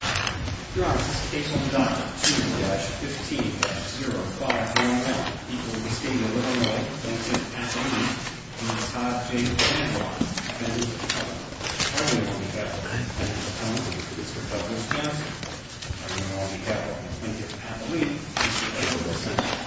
Drops, A1-2-15-05-01, equal to the state of Illinois, Lincoln, PA, on the 5-J-10-1, suspended at the top of the line. All units on behalf of the President of the Commonwealth of the District of Wisconsin, all units on behalf of Lincoln, PA, please proceed to the table.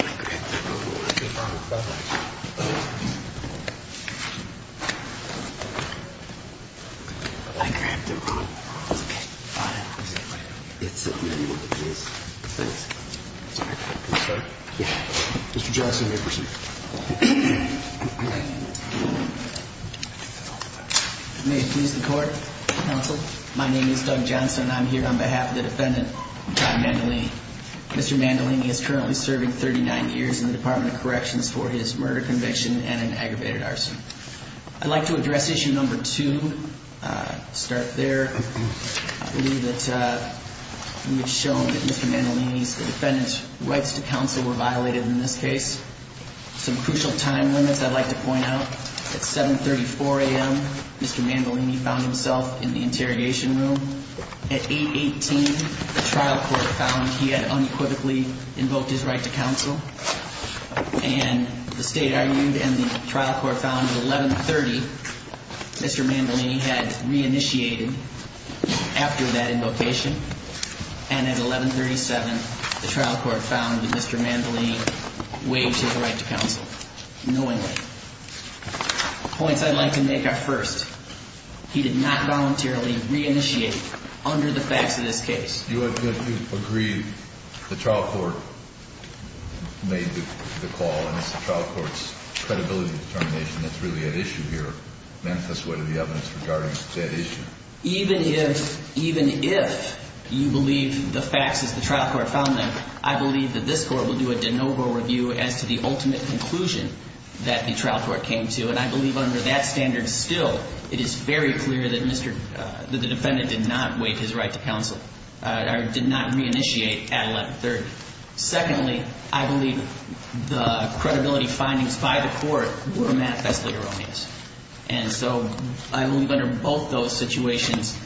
May it please the Court, Counsel, my name is Doug Johnson, and I'm here on behalf of the defendant, Dr. Mandoline. Mr. Mandoline is currently serving 39 years in the Department of Corrections for his murder conviction and an aggravated arson. I'd like to address issue number two. Start there. I believe that we've shown that Mr. Mandoline's defendant's rights to counsel were violated in this case. Some crucial time limits I'd like to point out. At 7.34 a.m., Mr. Mandoline found himself in the interrogation room. At 8.18, the trial court found he had unequivocally invoked his right to counsel. And the state argued and the trial court found at 11.30, Mr. Mandoline had reinitiated after that invocation. And at 11.37, the trial court found that Mr. Mandoline waived his right to counsel, knowingly. Points I'd like to make are first. He did not voluntarily reinitiate under the facts of this case. You would have to agree the trial court made the call, and it's the trial court's credibility determination that's really at issue here, manifest way to the evidence regarding that issue. Even if you believe the facts as the trial court found them, I believe that this court will do a de novo review as to the ultimate conclusion that the trial court came to. And I believe under that standard still, it is very clear that the defendant did not waive his right to counsel or did not reinitiate at 11.30. Secondly, I believe the credibility findings by the court were manifestly erroneous. And so I believe under both those situations,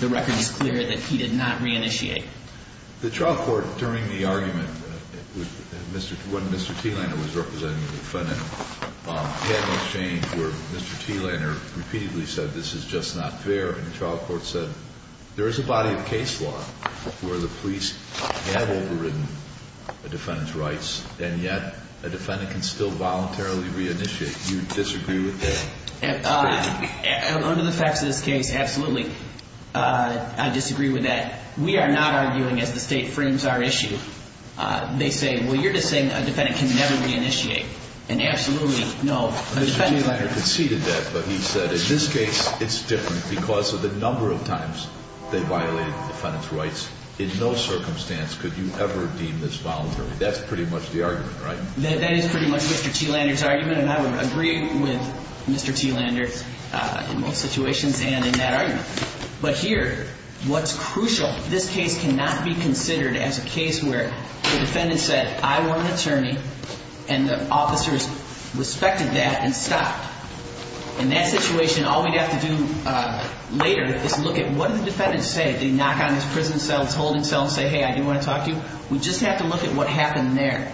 the record is clear that he did not reinitiate. The trial court, during the argument when Mr. Thielander was representing the defendant, had no change where Mr. Thielander repeatedly said, this is just not fair. And the trial court said, there is a body of case law where the police have overridden a defendant's rights, and yet a defendant can still voluntarily reinitiate. Do you disagree with that? Under the facts of this case, absolutely, I disagree with that. We are not arguing as the state frames our issue. They say, well, you're just saying a defendant can never reinitiate. And absolutely, no. Mr. Thielander conceded that, but he said, in this case, it's different because of the number of times they violated the defendant's rights. In no circumstance could you ever deem this voluntary. That's pretty much the argument, right? That is pretty much Mr. Thielander's argument, and I would agree with Mr. Thielander in both situations and in that argument. But here, what's crucial, this case cannot be considered as a case where the defendant said, I want an attorney, and the officers respected that and stopped. In that situation, all we'd have to do later is look at what did the defendant say? Did he knock on his prison cell, his holding cell, and say, hey, I do want to talk to you? We just have to look at what happened there.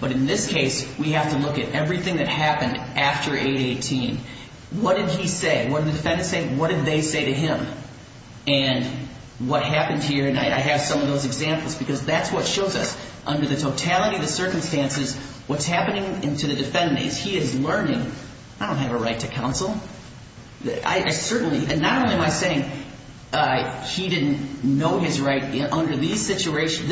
But in this case, we have to look at everything that happened after 8-18. What did he say? What did the defendant say? What did they say to him? And what happened here? And I have some of those examples because that's what shows us, under the totality of the circumstances, what's happening to the defendant is he is learning, I don't have a right to counsel. I certainly, and not only am I saying he didn't know his right. Under this situation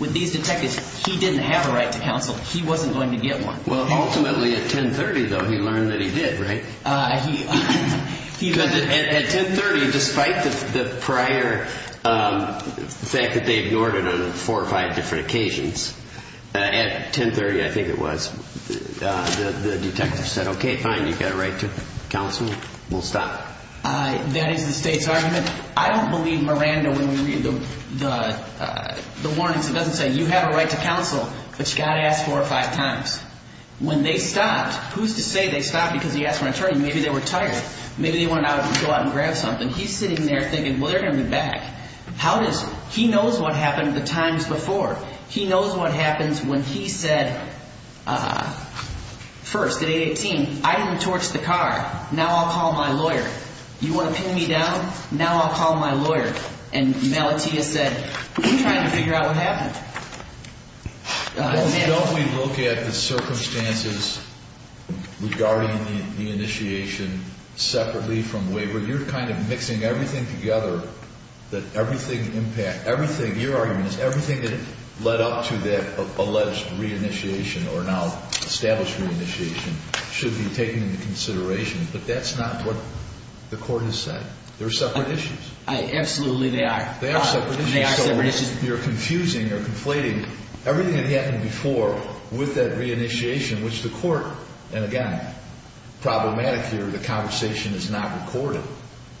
with these detectives, he didn't have a right to counsel. He wasn't going to get one. Well, ultimately, at 10-30, though, he learned that he did, right? At 10-30, despite the prior fact that they ignored it on four or five different occasions, at 10-30, I think it was, the detective said, okay, fine, you've got a right to counsel. We'll stop. That is the state's argument. I don't believe Miranda, when we read the warnings, it doesn't say you have a right to counsel, but you've got to ask four or five times. When they stopped, who's to say they stopped because he asked for an attorney? Maybe they were tired. Maybe they wanted to go out and grab something. He's sitting there thinking, well, they're going to be back. How is he? He knows what happened the times before. He knows what happens when he said, first, at 8-18, I didn't torch the car. Now I'll call my lawyer. You want to pin me down? Now I'll call my lawyer. And Melati has said, we're trying to figure out what happened. Don't we look at the circumstances regarding the initiation separately from waiver? You're kind of mixing everything together, that everything impact, everything, your argument is everything that led up to that alleged re-initiation or now established re-initiation should be taken into consideration. But that's not what the court has said. They're separate issues. Absolutely they are. They are separate issues. They are separate issues. You're confusing or conflating everything that happened before with that re-initiation, which the court, and again, problematic here. The conversation is not recorded.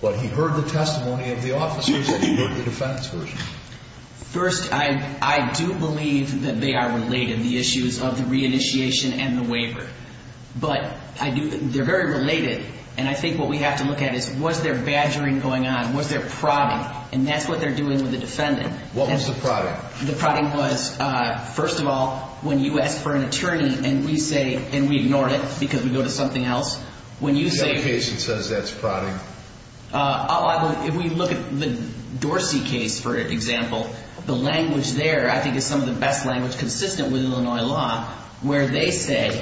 But he heard the testimony of the officers and he heard the defense version. First, I do believe that they are related, the issues of the re-initiation and the waiver. But they're very related. And I think what we have to look at is was there badgering going on? Was there prodding? And that's what they're doing with the defendant. What was the prodding? The prodding was, first of all, when you ask for an attorney and we say, and we ignore it because we go to something else, when you say... Which other case says that's prodding? If we look at the Dorsey case, for example, the language there, I think, is some of the best language consistent with Illinois law where they say,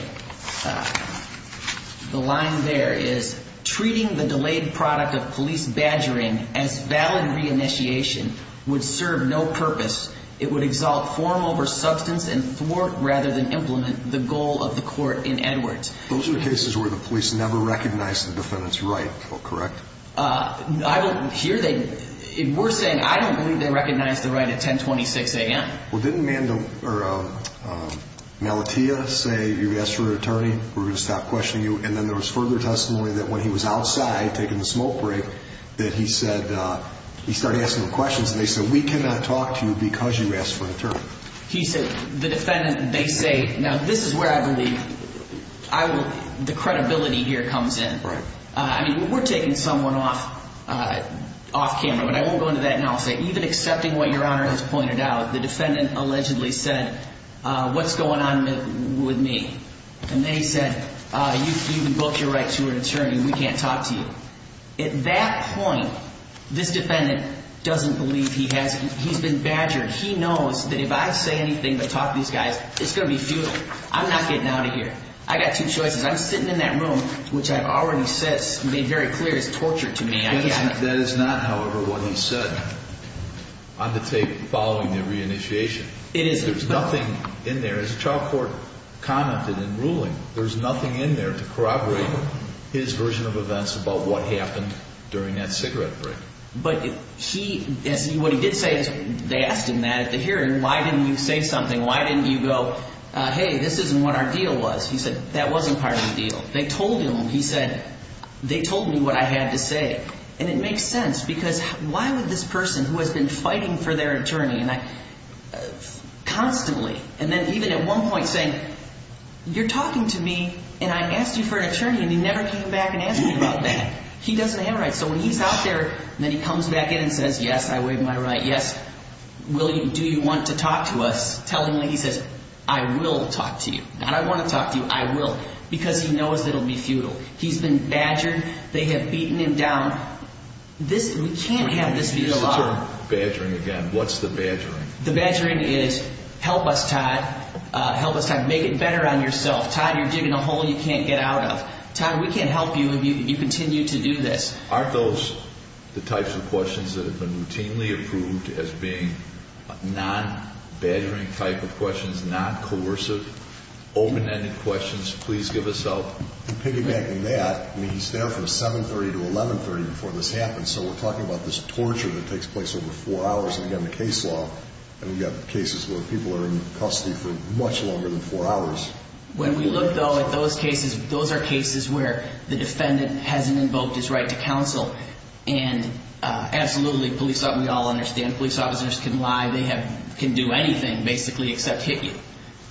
the line there is, treating the delayed product of police badgering as valid re-initiation would serve no purpose. It would exalt form over substance and thwart rather than implement the goal of the court in Edwards. Those are cases where the police never recognize the defendant's right, correct? I don't hear they... We're saying I don't believe they recognize the right at 1026 a.m. Well, didn't Malatia say, you asked for an attorney, we're going to stop questioning you? And then there was further testimony that when he was outside taking a smoke break, that he said, he started asking them questions, and they said, we cannot talk to you because you asked for an attorney. He said, the defendant, they say, now this is where I believe the credibility here comes in. I mean, we're taking someone off camera, but I won't go into that now. Even accepting what Your Honor has pointed out, the defendant allegedly said, what's going on with me? And they said, you've invoked your right to an attorney, we can't talk to you. At that point, this defendant doesn't believe he has, he's been badgered. He knows that if I say anything to talk to these guys, it's going to be do it. I'm not getting out of here. I've got two choices. I'm sitting in that room, which I've already made very clear is torture to me. That is not, however, what he said on the tape following the reinitiation. It isn't. There's nothing in there. As the trial court commented in ruling, there's nothing in there to corroborate his version of events about what happened during that cigarette break. But he, what he did say, they asked him that at the hearing. Why didn't you say something? Why didn't you go, hey, this isn't what our deal was? He said, that wasn't part of the deal. They told him, he said, they told me what I had to say. And it makes sense because why would this person who has been fighting for their attorney constantly, and then even at one point saying, you're talking to me and I asked you for an attorney and you never came back and asked me about that. He doesn't have rights. So when he's out there and then he comes back in and says, yes, I waive my right, yes, do you want to talk to us, telling me, he says, I will talk to you. Not I want to talk to you, I will. Because he knows it will be futile. He's been badgered. They have beaten him down. This, we can't have this be the law. When you use the term badgering again, what's the badgering? The badgering is, help us, Todd. Help us, Todd, make it better on yourself. Todd, you're digging a hole you can't get out of. Todd, we can't help you if you continue to do this. Aren't those the types of questions that have been routinely approved as being non-badgering type of questions, non-coercive, open-ended questions? Please give us help. To piggyback on that, I mean, he's there from 730 to 1130 before this happens. So we're talking about this torture that takes place over four hours. And again, the case law, and we've got cases where people are in custody for much longer than four hours. When we look, though, at those cases, those are cases where the defendant hasn't invoked his right to counsel. And absolutely, police officers, we all understand, police officers can lie. They can do anything, basically, except hit you.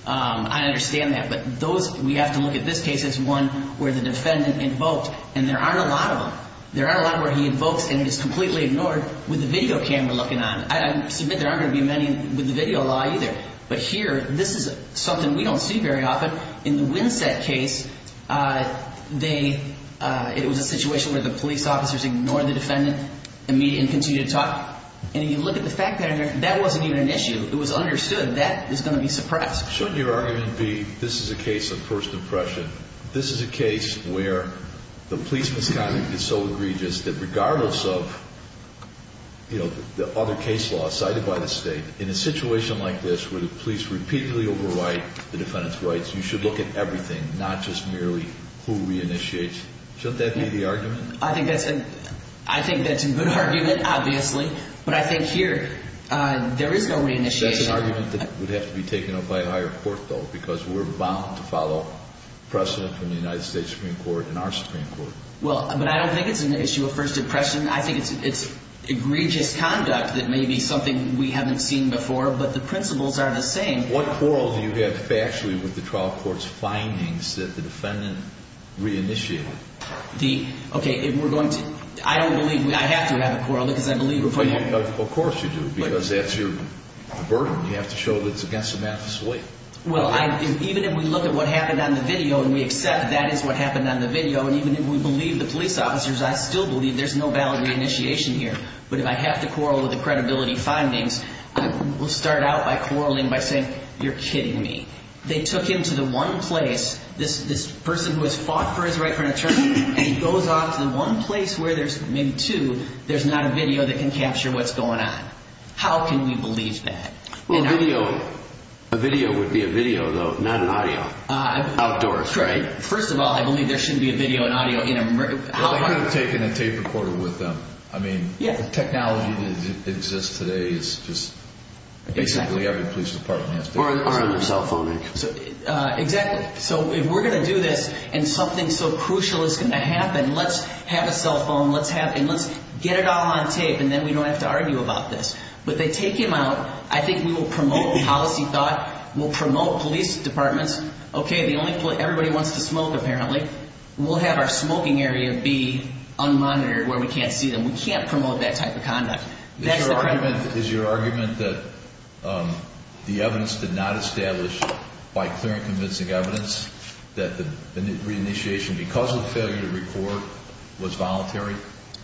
I understand that. But we have to look at this case as one where the defendant invoked, and there aren't a lot of them. There aren't a lot where he invokes and is completely ignored with a video camera looking on. I submit there aren't going to be many with the video law either. But here, this is something we don't see very often. In the Winsett case, it was a situation where the police officers ignored the defendant and continued to talk. And you look at the fact that that wasn't even an issue. It was understood that is going to be suppressed. Shouldn't your argument be this is a case of first impression? This is a case where the police misconduct is so egregious that regardless of the other case law cited by the state, in a situation like this where the police repeatedly overwrite the defendant's rights, you should look at everything, not just merely who reinitiates. Shouldn't that be the argument? I think that's a good argument, obviously. But I think here there is no reinitiation. That's an argument that would have to be taken up by a higher court, though, because we're bound to follow precedent from the United States Supreme Court and our Supreme Court. Well, but I don't think it's an issue of first impression. I think it's egregious conduct that may be something we haven't seen before, but the principles are the same. What quarrel do you have factually with the trial court's findings that the defendant reinitiated? Okay, if we're going to, I don't believe, I have to have a quarrel because I believe before you. Of course you do, because that's your burden. You have to show that it's against the matter's weight. Well, even if we look at what happened on the video and we accept that is what happened on the video, and even if we believe the police officers, I still believe there's no valid reinitiation here. But if I have to quarrel with the credibility findings, we'll start out by quarreling by saying you're kidding me. They took him to the one place, this person who has fought for his right for an attorney, and he goes off to the one place where there's maybe two, there's not a video that can capture what's going on. How can we believe that? Well, a video would be a video, though, not an audio. Outdoors, right? First of all, I believe there shouldn't be a video and audio in a... Well, they could have taken a tape recorder with them. I mean, the technology that exists today is just... Exactly. Or a cell phone recorder. Exactly. So if we're going to do this and something so crucial is going to happen, let's have a cell phone, and let's get it all on tape, and then we don't have to argue about this. But they take him out. I think we will promote policy thought. We'll promote police departments. Okay, everybody wants to smoke, apparently. We'll have our smoking area be unmonitored where we can't see them. We can't promote that type of conduct. Is your argument that the evidence did not establish, by clear and convincing evidence, that the reinitiation, because of failure to record, was voluntary?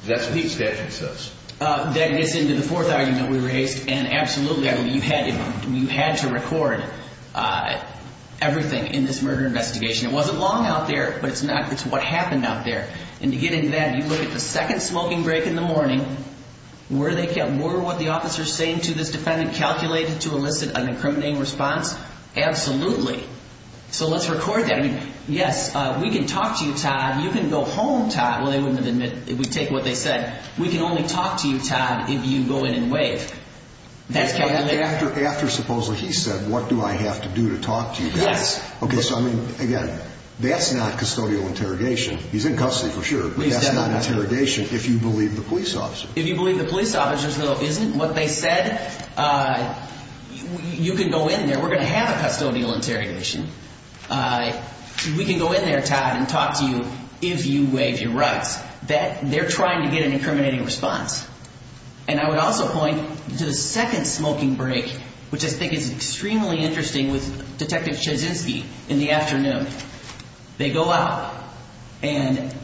That's what the statute says. That gets into the fourth argument we raised. And absolutely, you had to record everything in this murder investigation. It wasn't long out there, but it's what happened out there. And to get into that, you look at the second smoking break in the morning. Were what the officer is saying to this defendant calculated to elicit an incriminating response? Absolutely. So let's record that. Yes, we can talk to you, Todd. You can go home, Todd. Well, they wouldn't have admitted if we'd taken what they said. We can only talk to you, Todd, if you go in and waive. After supposedly he said, what do I have to do to talk to you? Yes. Okay, so I mean, again, that's not custodial interrogation. He's in custody, for sure, but that's not interrogation if you believe the police officer. If you believe the police officer, though, isn't what they said, you can go in there. We're going to have a custodial interrogation. We can go in there, Todd, and talk to you if you waive your rights. They're trying to get an incriminating response. And I would also point to the second smoking break, which I think is extremely interesting with Detective Chodzinski in the afternoon. They go out, and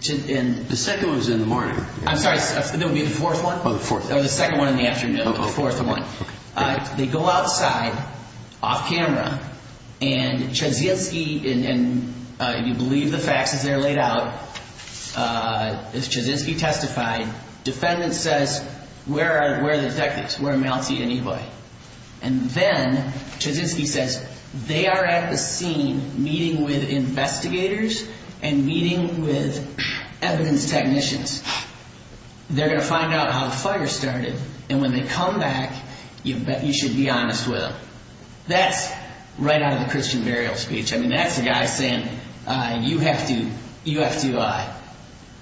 the second was in the morning. I'm sorry, that would be the fourth one? Oh, the fourth. Oh, the second one in the afternoon, the fourth one. They go outside, off camera, and Chodzinski, and you believe the facts as they're laid out, as Chodzinski testified, defendant says, where are the detectives? Where are Mouncey and Eboy? And then Chodzinski says, they are at the scene meeting with investigators and meeting with evidence technicians. They're going to find out how the fire started, and when they come back, you should be honest with them. That's right out of the Christian burial speech. I mean, that's the guy saying you have to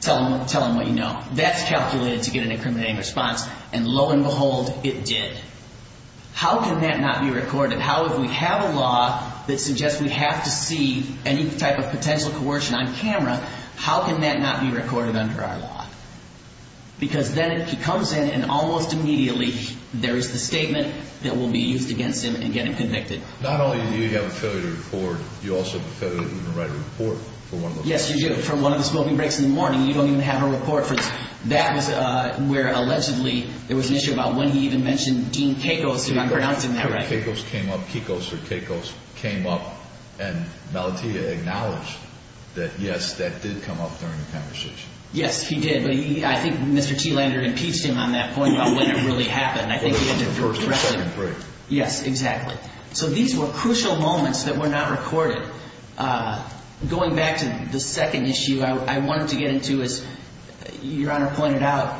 tell them what you know. That's calculated to get an incriminating response, and lo and behold, it did. How can that not be recorded? How, if we have a law that suggests we have to see any type of potential coercion on camera, how can that not be recorded under our law? Because then he comes in, and almost immediately, there is the statement that will be used against him in getting convicted. Not only do you have a failure to record, you also have a failure to even write a report for one of those. Yes, you do. Even for one of the smoking breaks in the morning, you don't even have a report. That was where, allegedly, there was an issue about when he even mentioned Dean Kekos, if I'm pronouncing that right. Kekos came up, Kekos or Kekos came up, and Malatia acknowledged that, yes, that did come up during the conversation. Yes, he did. But I think Mr. T. Lander impeached him on that point about when it really happened. I think he had to correct it. Yes, exactly. So these were crucial moments that were not recorded. Going back to the second issue, I wanted to get into, as Your Honor pointed out,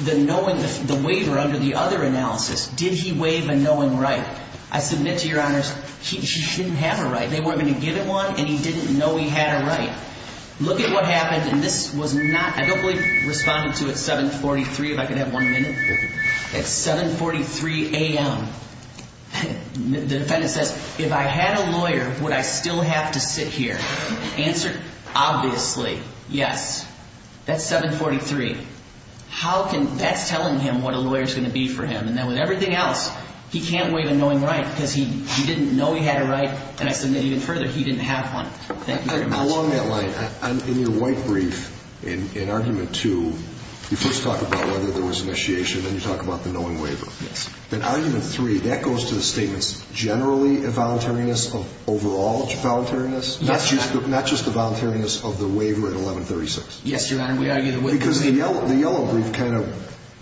the waiver under the other analysis. Did he waive a knowing right? I submit to Your Honors, he didn't have a right. They weren't going to give him one, and he didn't know he had a right. Look at what happened, and this was not, I don't believe responded to at 743, if I could have one minute. At 743 a.m., the defendant says, if I had a lawyer, would I still have to sit here? The answer, obviously, yes. That's 743. That's telling him what a lawyer is going to be for him. And then with everything else, he can't waive a knowing right because he didn't know he had a right. And I submit even further, he didn't have one. Along that line, in your white brief, in argument two, you first talk about whether there was initiation, then you talk about the knowing waiver. In argument three, that goes to the statements, generally a voluntariness of overall voluntariness, not just the voluntariness of the waiver at 1136. Yes, Your Honor, we argue the waiver. Because the yellow brief kind of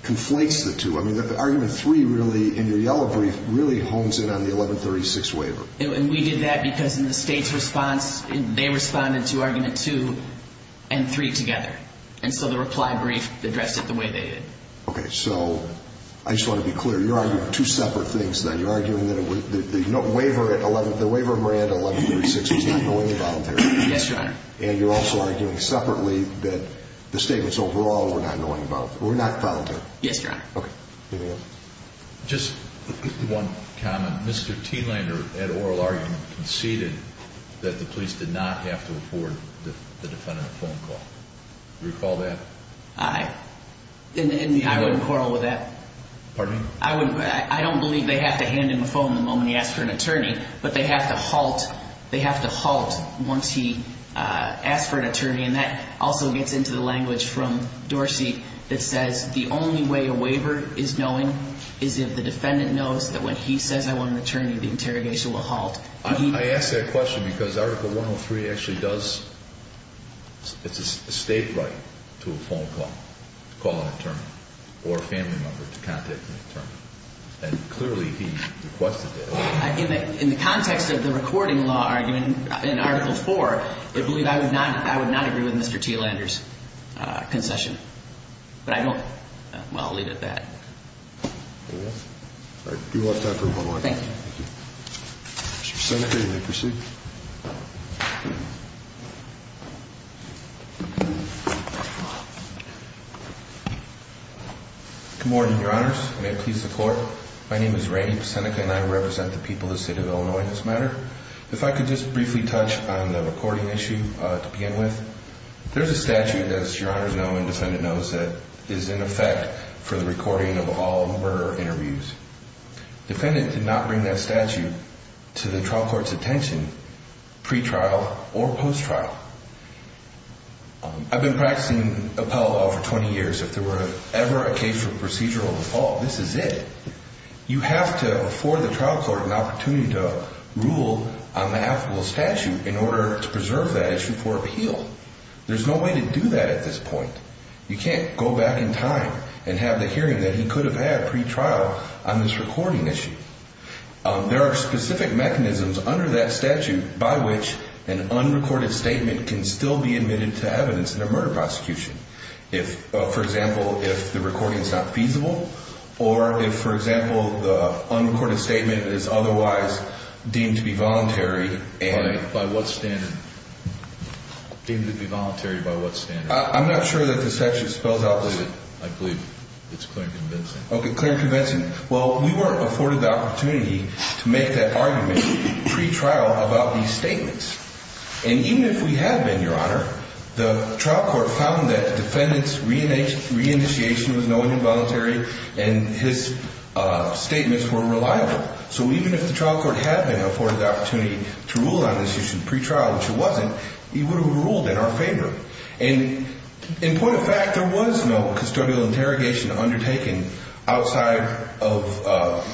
conflates the two. I mean, argument three really, in your yellow brief, really hones in on the 1136 waiver. And we did that because in the state's response, they responded to argument two and three together. And so the reply brief addressed it the way they did. Okay, so I just want to be clear. You're arguing two separate things then. You're arguing that the waiver at 1136 was not knowingly voluntary. Yes, Your Honor. And you're also arguing separately that the statements overall were not knowingly voluntary. Were not voluntary. Yes, Your Honor. Okay. Anything else? Just one comment. Mr. Teelander, at oral argument, conceded that the police did not have to afford the defendant a phone call. Do you recall that? I wouldn't quarrel with that. Pardon me? I don't believe they have to hand him a phone the moment he asks for an attorney. But they have to halt once he asks for an attorney. And that also gets into the language from Dorsey that says the only way a waiver is knowing is if the defendant knows that when he says, I want an attorney, the interrogation will halt. I ask that question because Article 103 actually does, it's a state right to a phone call, to call an attorney, or a family member to contact an attorney. And clearly he requested that. In the context of the recording law argument in Article 4, I believe I would not agree with Mr. Teelander's concession. But I don't. Well, I'll leave it at that. All right. You'll have time for one more question. Thank you. Mr. Seneca, you may proceed. Good morning, Your Honors. May it please the Court. My name is Randy Seneca, and I represent the people of the city of Illinois in this matter. If I could just briefly touch on the recording issue to begin with. There's a statute, as Your Honors know and the defendant knows, that is in effect for the recording of all murder interviews. Defendant did not bring that statute to the trial court's attention pre-trial or post-trial. I've been practicing appellate law for 20 years. If there were ever a case for procedural default, this is it. You have to afford the trial court an opportunity to rule on the applicable statute in order to preserve that issue for appeal. There's no way to do that at this point. You can't go back in time and have the hearing that he could have had pre-trial on this recording issue. There are specific mechanisms under that statute by which an unrecorded statement can still be admitted to evidence in a murder prosecution. For example, if the recording is not feasible or if, for example, the unrecorded statement is otherwise deemed to be voluntary. By what standard? Deemed to be voluntary by what standard? I'm not sure that the statute spells out. I believe it's clear and convincing. Okay, clear and convincing. Well, we weren't afforded the opportunity to make that argument pre-trial about these statements. And even if we had been, Your Honor, the trial court found that the defendant's re-initiation was knowingly voluntary and his statements were reliable. So even if the trial court had been afforded the opportunity to rule on this issue pre-trial, which it wasn't, he would have ruled in our favor. And in point of fact, there was no custodial interrogation undertaken outside of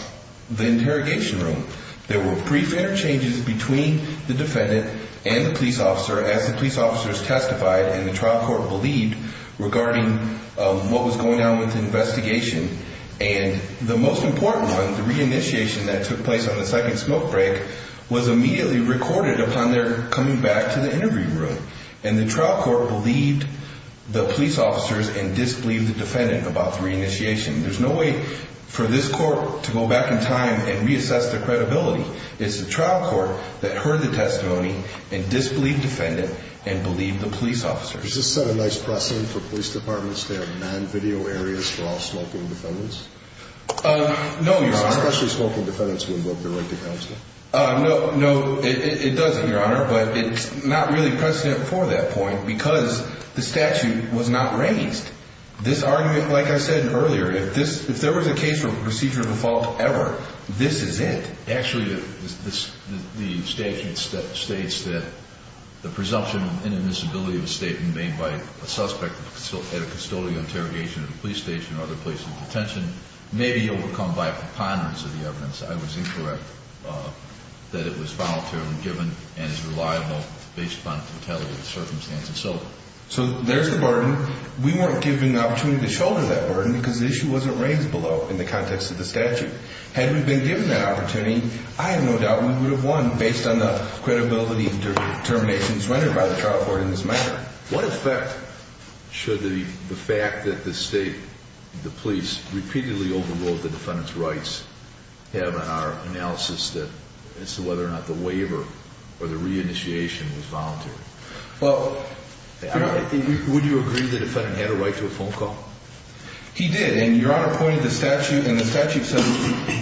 the interrogation room. There were brief interchanges between the defendant and the police officer as the police officers testified and the trial court believed regarding what was going on with the investigation. And the most important one, the re-initiation that took place on the second smoke break, was immediately recorded upon their coming back to the interview room. And the trial court believed the police officers and disbelieved the defendant about the re-initiation. There's no way for this court to go back in time and reassess their credibility. It's the trial court that heard the testimony and disbelieved the defendant and believed the police officers. Does this set a nice precedent for police departments to have non-video areas for all smoking defendants? No, Your Honor. Especially smoking defendants who invoke the right to counsel. No, it doesn't, Your Honor, but it's not really precedent for that point because the statute was not raised. This argument, like I said earlier, if there was a case for procedure of a fault ever, this is it. Actually, the statute states that the presumption of inadmissibility of a statement made by a suspect at a custodial interrogation at a police station or other place of detention may be overcome by preponderance of the evidence. I was incorrect that it was voluntarily given and is reliable based upon intelligent circumstances. So there's the burden. We weren't given the opportunity to shoulder that burden because the issue wasn't raised below in the context of the statute. Had we been given that opportunity, I have no doubt we would have won based on the credibility and determination that's rendered by the trial court in this matter. What effect should the fact that the state, the police, repeatedly overruled the defendant's rights have on our analysis as to whether or not the waiver or the reinitiation was voluntary? Well, would you agree the defendant had a right to a phone call? He did, and Your Honor pointed to the statute, and the statute says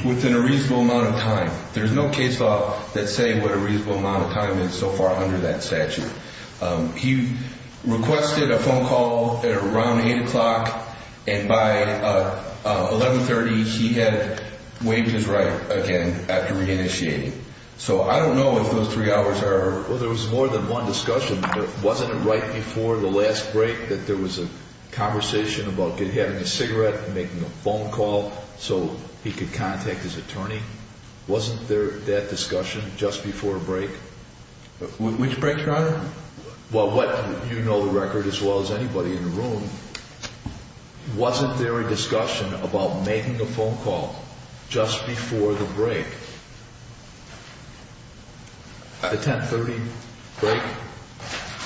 within a reasonable amount of time. There's no case law that's saying what a reasonable amount of time is so far under that statute. He requested a phone call at around 8 o'clock, and by 1130 he had waived his right again after reinitiating. So I don't know if those three hours are... Well, there was more than one discussion. Wasn't it right before the last break that there was a conversation about having a cigarette and making a phone call so he could contact his attorney? Wasn't there that discussion just before break? Which break, Your Honor? Well, you know the record as well as anybody in the room. Wasn't there a discussion about making a phone call just before the break? The 1030 break?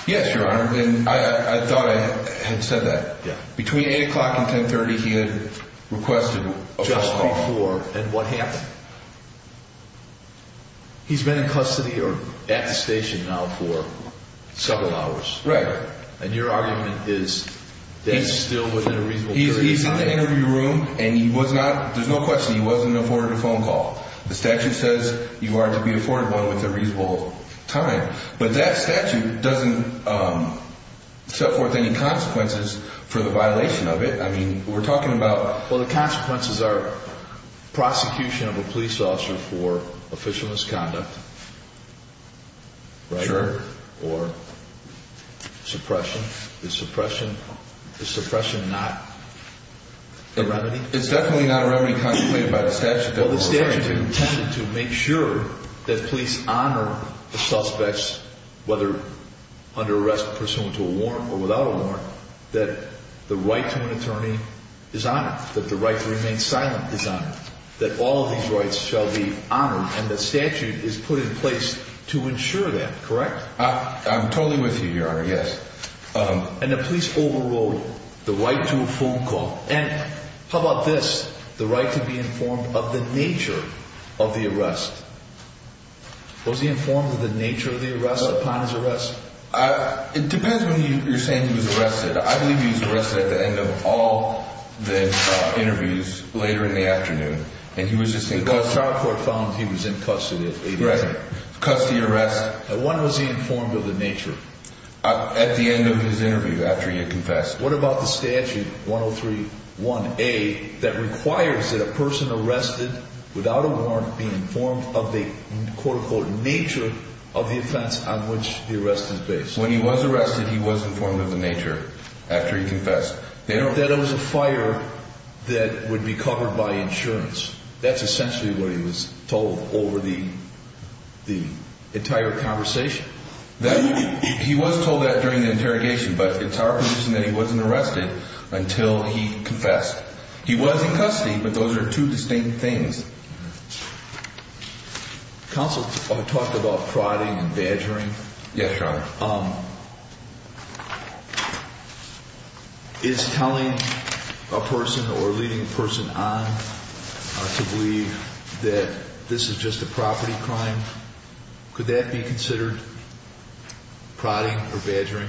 Yes, Your Honor, and I thought I had said that. Between 8 o'clock and 1030 he had requested a phone call. Just before, and what happened? He's been in custody or at the station now for several hours. Right. And your argument is that's still within a reasonable period of time. He's in the interview room, and he was not, there's no question, he wasn't afforded a phone call. The statute says you are to be afforded one with a reasonable time, but that statute doesn't set forth any consequences for the violation of it. I mean, we're talking about... Well, the consequences are prosecution of a police officer for official misconduct, right? Sure. Or suppression. Is suppression not the remedy? It's definitely not a remedy contemplated by the statute. Well, the statute is intended to make sure that police honor the suspects, that the right to an attorney is honored, that the right to remain silent is honored, that all of these rights shall be honored, and the statute is put in place to ensure that, correct? I'm totally with you here, Your Honor, yes. And the police overrode the right to a phone call. And how about this, the right to be informed of the nature of the arrest. Was he informed of the nature of the arrest upon his arrest? It depends when you're saying he was arrested. I believe he was arrested at the end of all the interviews, later in the afternoon, and he was just in custody. The trial court found he was in custody. Right, custody arrest. When was he informed of the nature? At the end of his interview, after he had confessed. What about the statute, 103-1A, that requires that a person arrested without a warrant be informed of the, quote-unquote, nature of the offense on which the arrest is based? When he was arrested, he was informed of the nature after he confessed. That it was a fire that would be covered by insurance. That's essentially what he was told over the entire conversation. He was told that during the interrogation, but it's our position that he wasn't arrested until he confessed. He was in custody, but those are two distinct things. Counsel talked about prodding and badgering. Yes, Your Honor. Is telling a person or leading a person on to believe that this is just a property crime, could that be considered prodding or badgering?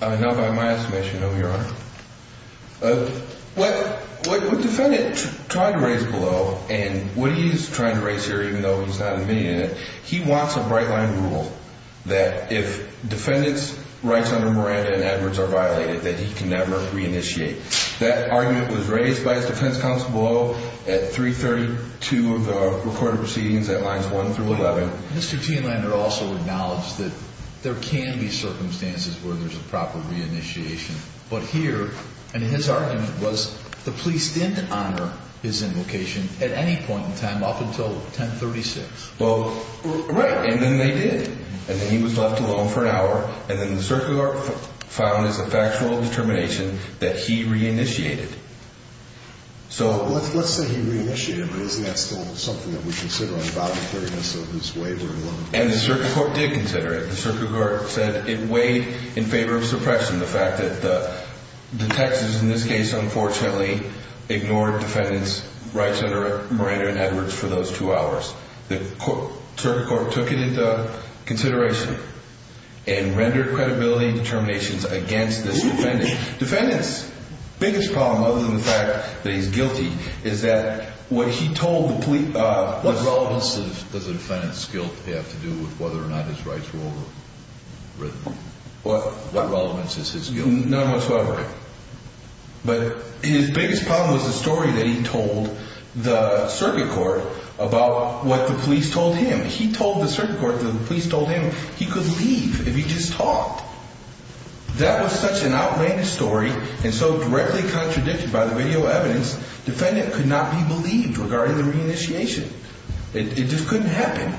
Not by my estimation, no, Your Honor. What the defendant tried to raise below, and what he's trying to raise here, even though he's not admitting it, he wants a bright-line rule that if defendants' rights under Miranda and Edwards are violated, that he can never reinitiate. That argument was raised by his defense counsel below at 332 of the recorded proceedings at Lines 1 through 11. Mr. Tienlander also acknowledged that there can be circumstances where there's a proper reinitiation. But here, and his argument was the police didn't honor his invocation at any point in time up until 1036. Well, right, and then they did. And then he was left alone for an hour, and then the circuit court found as a factual determination that he reinitiated. So let's say he reinitiated, but isn't that still something that we should sit on about the fairness of his waiver? And the circuit court did consider it. The circuit court said it weighed in favor of suppression, the fact that the Texas, in this case, unfortunately, ignored defendants' rights under Miranda and Edwards for those two hours. The circuit court took it into consideration and rendered credibility determinations against this defendant. Defendant's biggest problem, other than the fact that he's guilty, is that what he told the police was wrong. What else does a defendant's guilt have to do with whether or not his rights were overwritten? What relevance is his guilt? None whatsoever. But his biggest problem was the story that he told the circuit court about what the police told him. He told the circuit court that the police told him he could leave if he just talked. That was such an outrageous story and so directly contradicted by the video evidence, defendant could not be believed regarding the reinitiation. It just couldn't happen.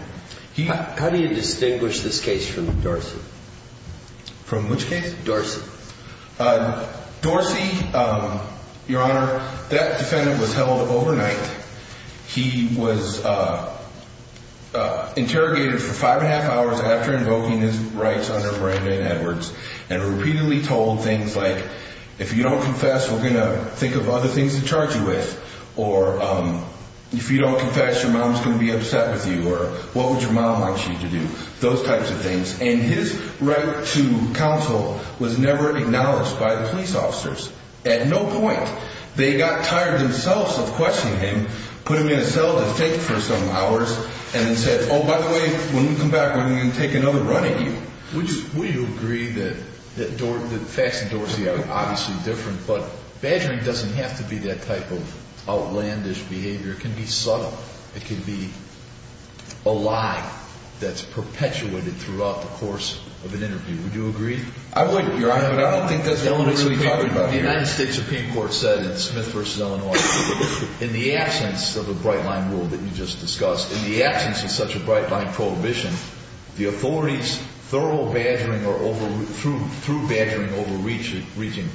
How do you distinguish this case from Dorsey? From which case? Dorsey. Dorsey, Your Honor, that defendant was held overnight. He was interrogated for five and a half hours after invoking his rights under Miranda and Edwards and repeatedly told things like, if you don't confess, we're going to think of other things to charge you with. Or if you don't confess, your mom's going to be upset with you. Or what would your mom want you to do? Those types of things. And his right to counsel was never acknowledged by the police officers. At no point. They got tired themselves of questioning him, put him in a cell to think for some hours, and then said, oh, by the way, when we come back, we're going to take another run at you. Would you agree that facts in Dorsey are obviously different, but badgering doesn't have to be that type of outlandish behavior. It can be subtle. It can be a lie that's perpetuated throughout the course of an interview. Would you agree? I wouldn't, Your Honor, but I don't think that's what we're really talking about here. The United States Supreme Court said in Smith v. Illinois, in the absence of a bright-line rule that you just discussed, in the absence of such a bright-line prohibition, the authorities through badgering overreaching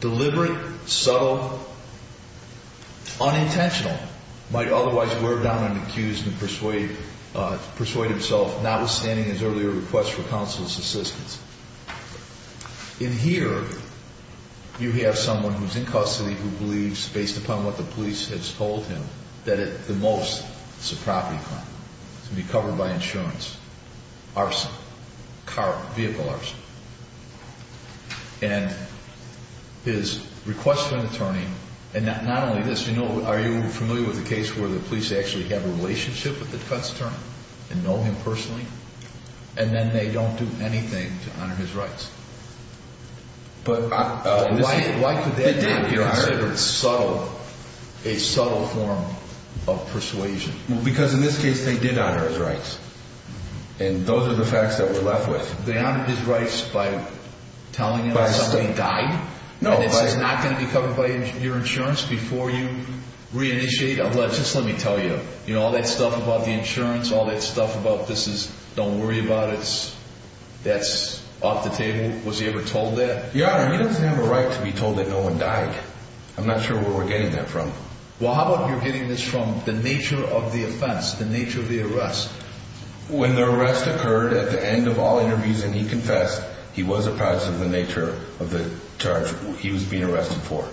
deliberate, subtle, unintentional, might otherwise wear down an accused and persuade himself, notwithstanding his earlier request for counsel's assistance. In here, you have someone who's in custody who believes, based upon what the police has told him, that at the most it's a property crime. It's going to be covered by insurance, arson, car, vehicle arson. And his request to an attorney, and not only this, are you familiar with the case where the police actually have a relationship with the defense attorney and know him personally, and then they don't do anything to honor his rights? But why could that not be considered a subtle form of persuasion? Because in this case, they did honor his rights. And those are the facts that we're left with. They honored his rights by telling him that somebody died? And this is not going to be covered by your insurance before you reinitiate? Just let me tell you, all that stuff about the insurance, all that stuff about this is don't worry about it, that's off the table, was he ever told that? Your Honor, he doesn't have a right to be told that no one died. I'm not sure where we're getting that from. Well, how about you're getting this from the nature of the offense, the nature of the arrest? When the arrest occurred at the end of all interviews and he confessed, he was a participant in the nature of the charge he was being arrested for.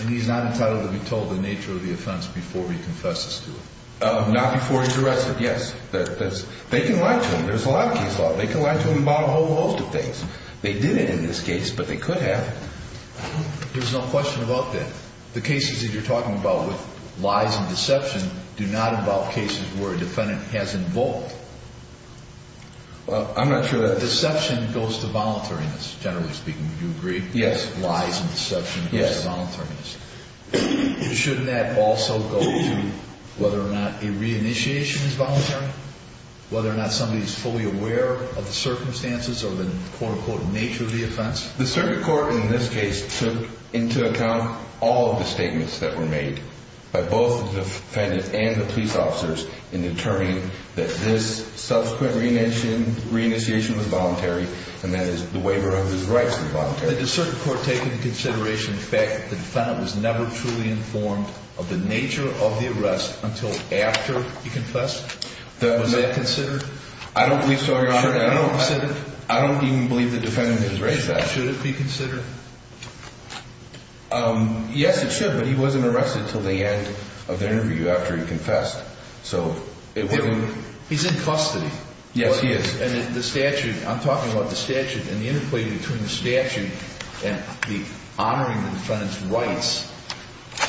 And he's not entitled to be told the nature of the offense before he confesses to it? Not before he's arrested, yes. They can lie to him, there's a lot of case law, they can lie to him about a whole host of things. They didn't in this case, but they could have. There's no question about that. The cases that you're talking about with lies and deception do not involve cases where a defendant has involved. I'm not sure that. Deception goes to voluntariness, generally speaking, do you agree? Yes. Lies and deception goes to voluntariness. Yes. Shouldn't that also go to whether or not a re-initiation is voluntary, whether or not somebody is fully aware of the circumstances or the quote-unquote nature of the offense? The circuit court in this case took into account all of the statements that were made by both the defendant and the police officers in determining that this subsequent re-initiation was voluntary and that the waiver of his rights was voluntary. Did the circuit court take into consideration the fact that the defendant was never truly informed of the nature of the arrest until after he confessed? Was that considered? I don't believe so, Your Honor. I don't even believe the defendant has raised that. Should it be considered? Yes, it should, but he wasn't arrested until the end of the interview after he confessed. So it wasn't. He's in custody. Yes, he is. And the statute, I'm talking about the statute, and the interplay between the statute and honoring the defendant's rights,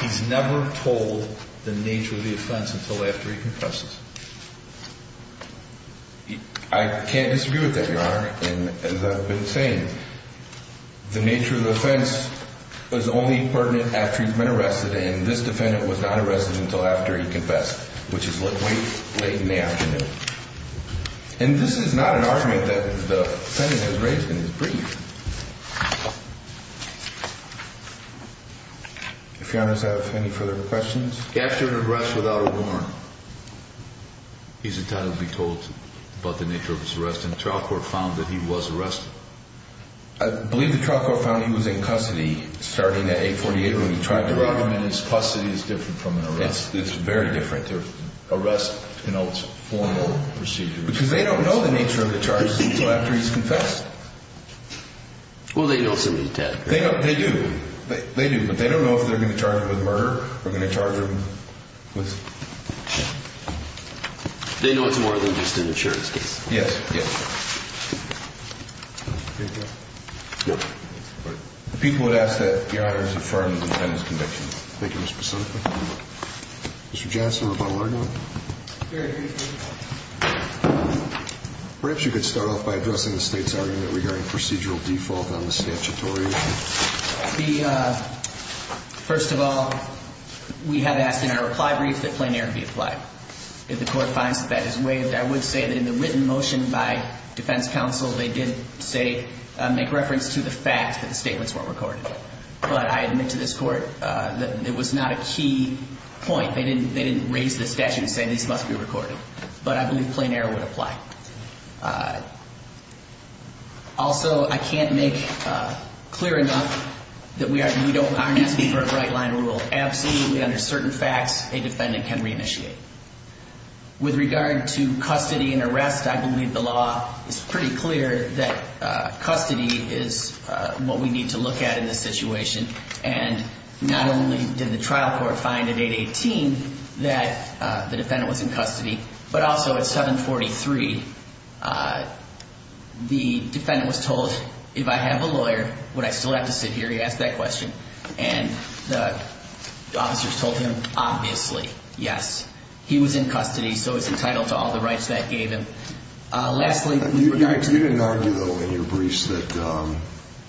he's never told the nature of the offense until after he confesses. I can't disagree with that, Your Honor, and as I've been saying, the nature of the offense was only pertinent after he'd been arrested, and this defendant was not arrested until after he confessed, which is late in the afternoon. And this is not an argument that the defendant has raised in his brief. If Your Honors have any further questions. After an arrest without a warrant, he's entitled to be told about the nature of his arrest, and the trial court found that he was arrested. I believe the trial court found he was in custody starting at 848 when he tried to run. The argument is custody is different from an arrest. It's very different. Arrest denotes formal procedure. Because they don't know the nature of the charges until after he's confessed. Well, they know some of the tactics. They do, but they don't know if they're going to charge him with murder or if they're going to charge him with... They know it's more than just an insurance case. Yes, yes. People would ask that Your Honors affirm the defendant's conviction. Thank you, Mr. Pasoneko. Mr. Johnson, rebuttal argument? Very briefly. Perhaps you could start off by addressing the State's argument regarding procedural default on the statutory issue. First of all, we have asked in our reply brief that plain error be applied. If the court finds that that is waived, I would say that in the written motion by defense counsel, they did make reference to the fact that the statements weren't recorded. But I admit to this court that it was not a key point. They didn't raise the statute and say these must be recorded. But I believe plain error would apply. Also, I can't make clear enough that we aren't asking for a right-line rule. Absolutely, under certain facts, a defendant can reinitiate. With regard to custody and arrest, I believe the law is pretty clear that custody is what we need to look at in this situation. And not only did the trial court find in 818 that the defendant was in custody, but also at 743, the defendant was told, if I have a lawyer, would I still have to sit here? He asked that question. And the officers told him, obviously, yes. He was in custody, so he's entitled to all the rights that it gave him. Lastly. You didn't argue, though, in your briefs, that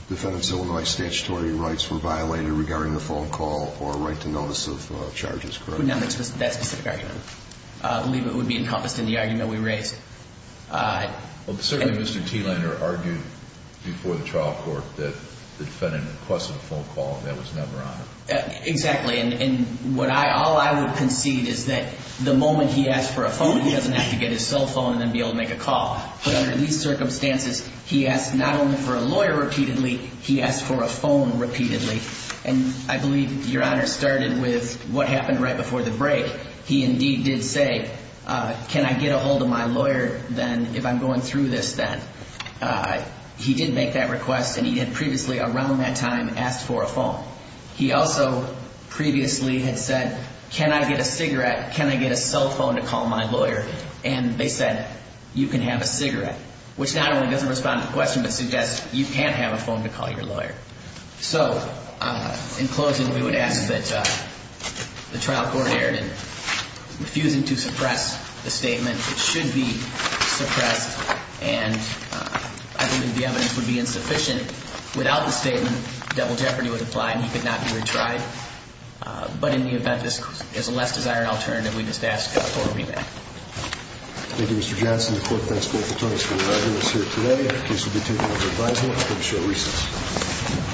defendant's Illinois statutory rights were violated regarding the phone call or right to notice of charges, correct? No, that specific argument. I believe it would be encompassed in the argument we raised. Well, certainly Mr. Thielander argued before the trial court that the defendant requested a phone call and that was never honored. Exactly. And all I would concede is that the moment he asked for a phone, he doesn't have to get his cell phone and then be able to make a call. But under these circumstances, he asked not only for a lawyer repeatedly, he asked for a phone repeatedly. And I believe Your Honor started with what happened right before the break. He indeed did say, can I get a hold of my lawyer then, if I'm going through this then. He did make that request, and he had previously around that time asked for a phone. He also previously had said, can I get a cigarette? Can I get a cell phone to call my lawyer? And they said, you can have a cigarette. Which not only doesn't respond to the question, but suggests you can't have a phone to call your lawyer. So in closing, we would ask that the trial court errant in refusing to suppress the statement, it should be suppressed, and I believe the evidence would be insufficient. Without the statement, double jeopardy would apply and he could not be retried. But in the event there's a less desired alternative, we just ask for a remand. Thank you, Mr. Johnson. The court thanks both attorneys for their evidence here today. The case will be taken up for advising after the short recess.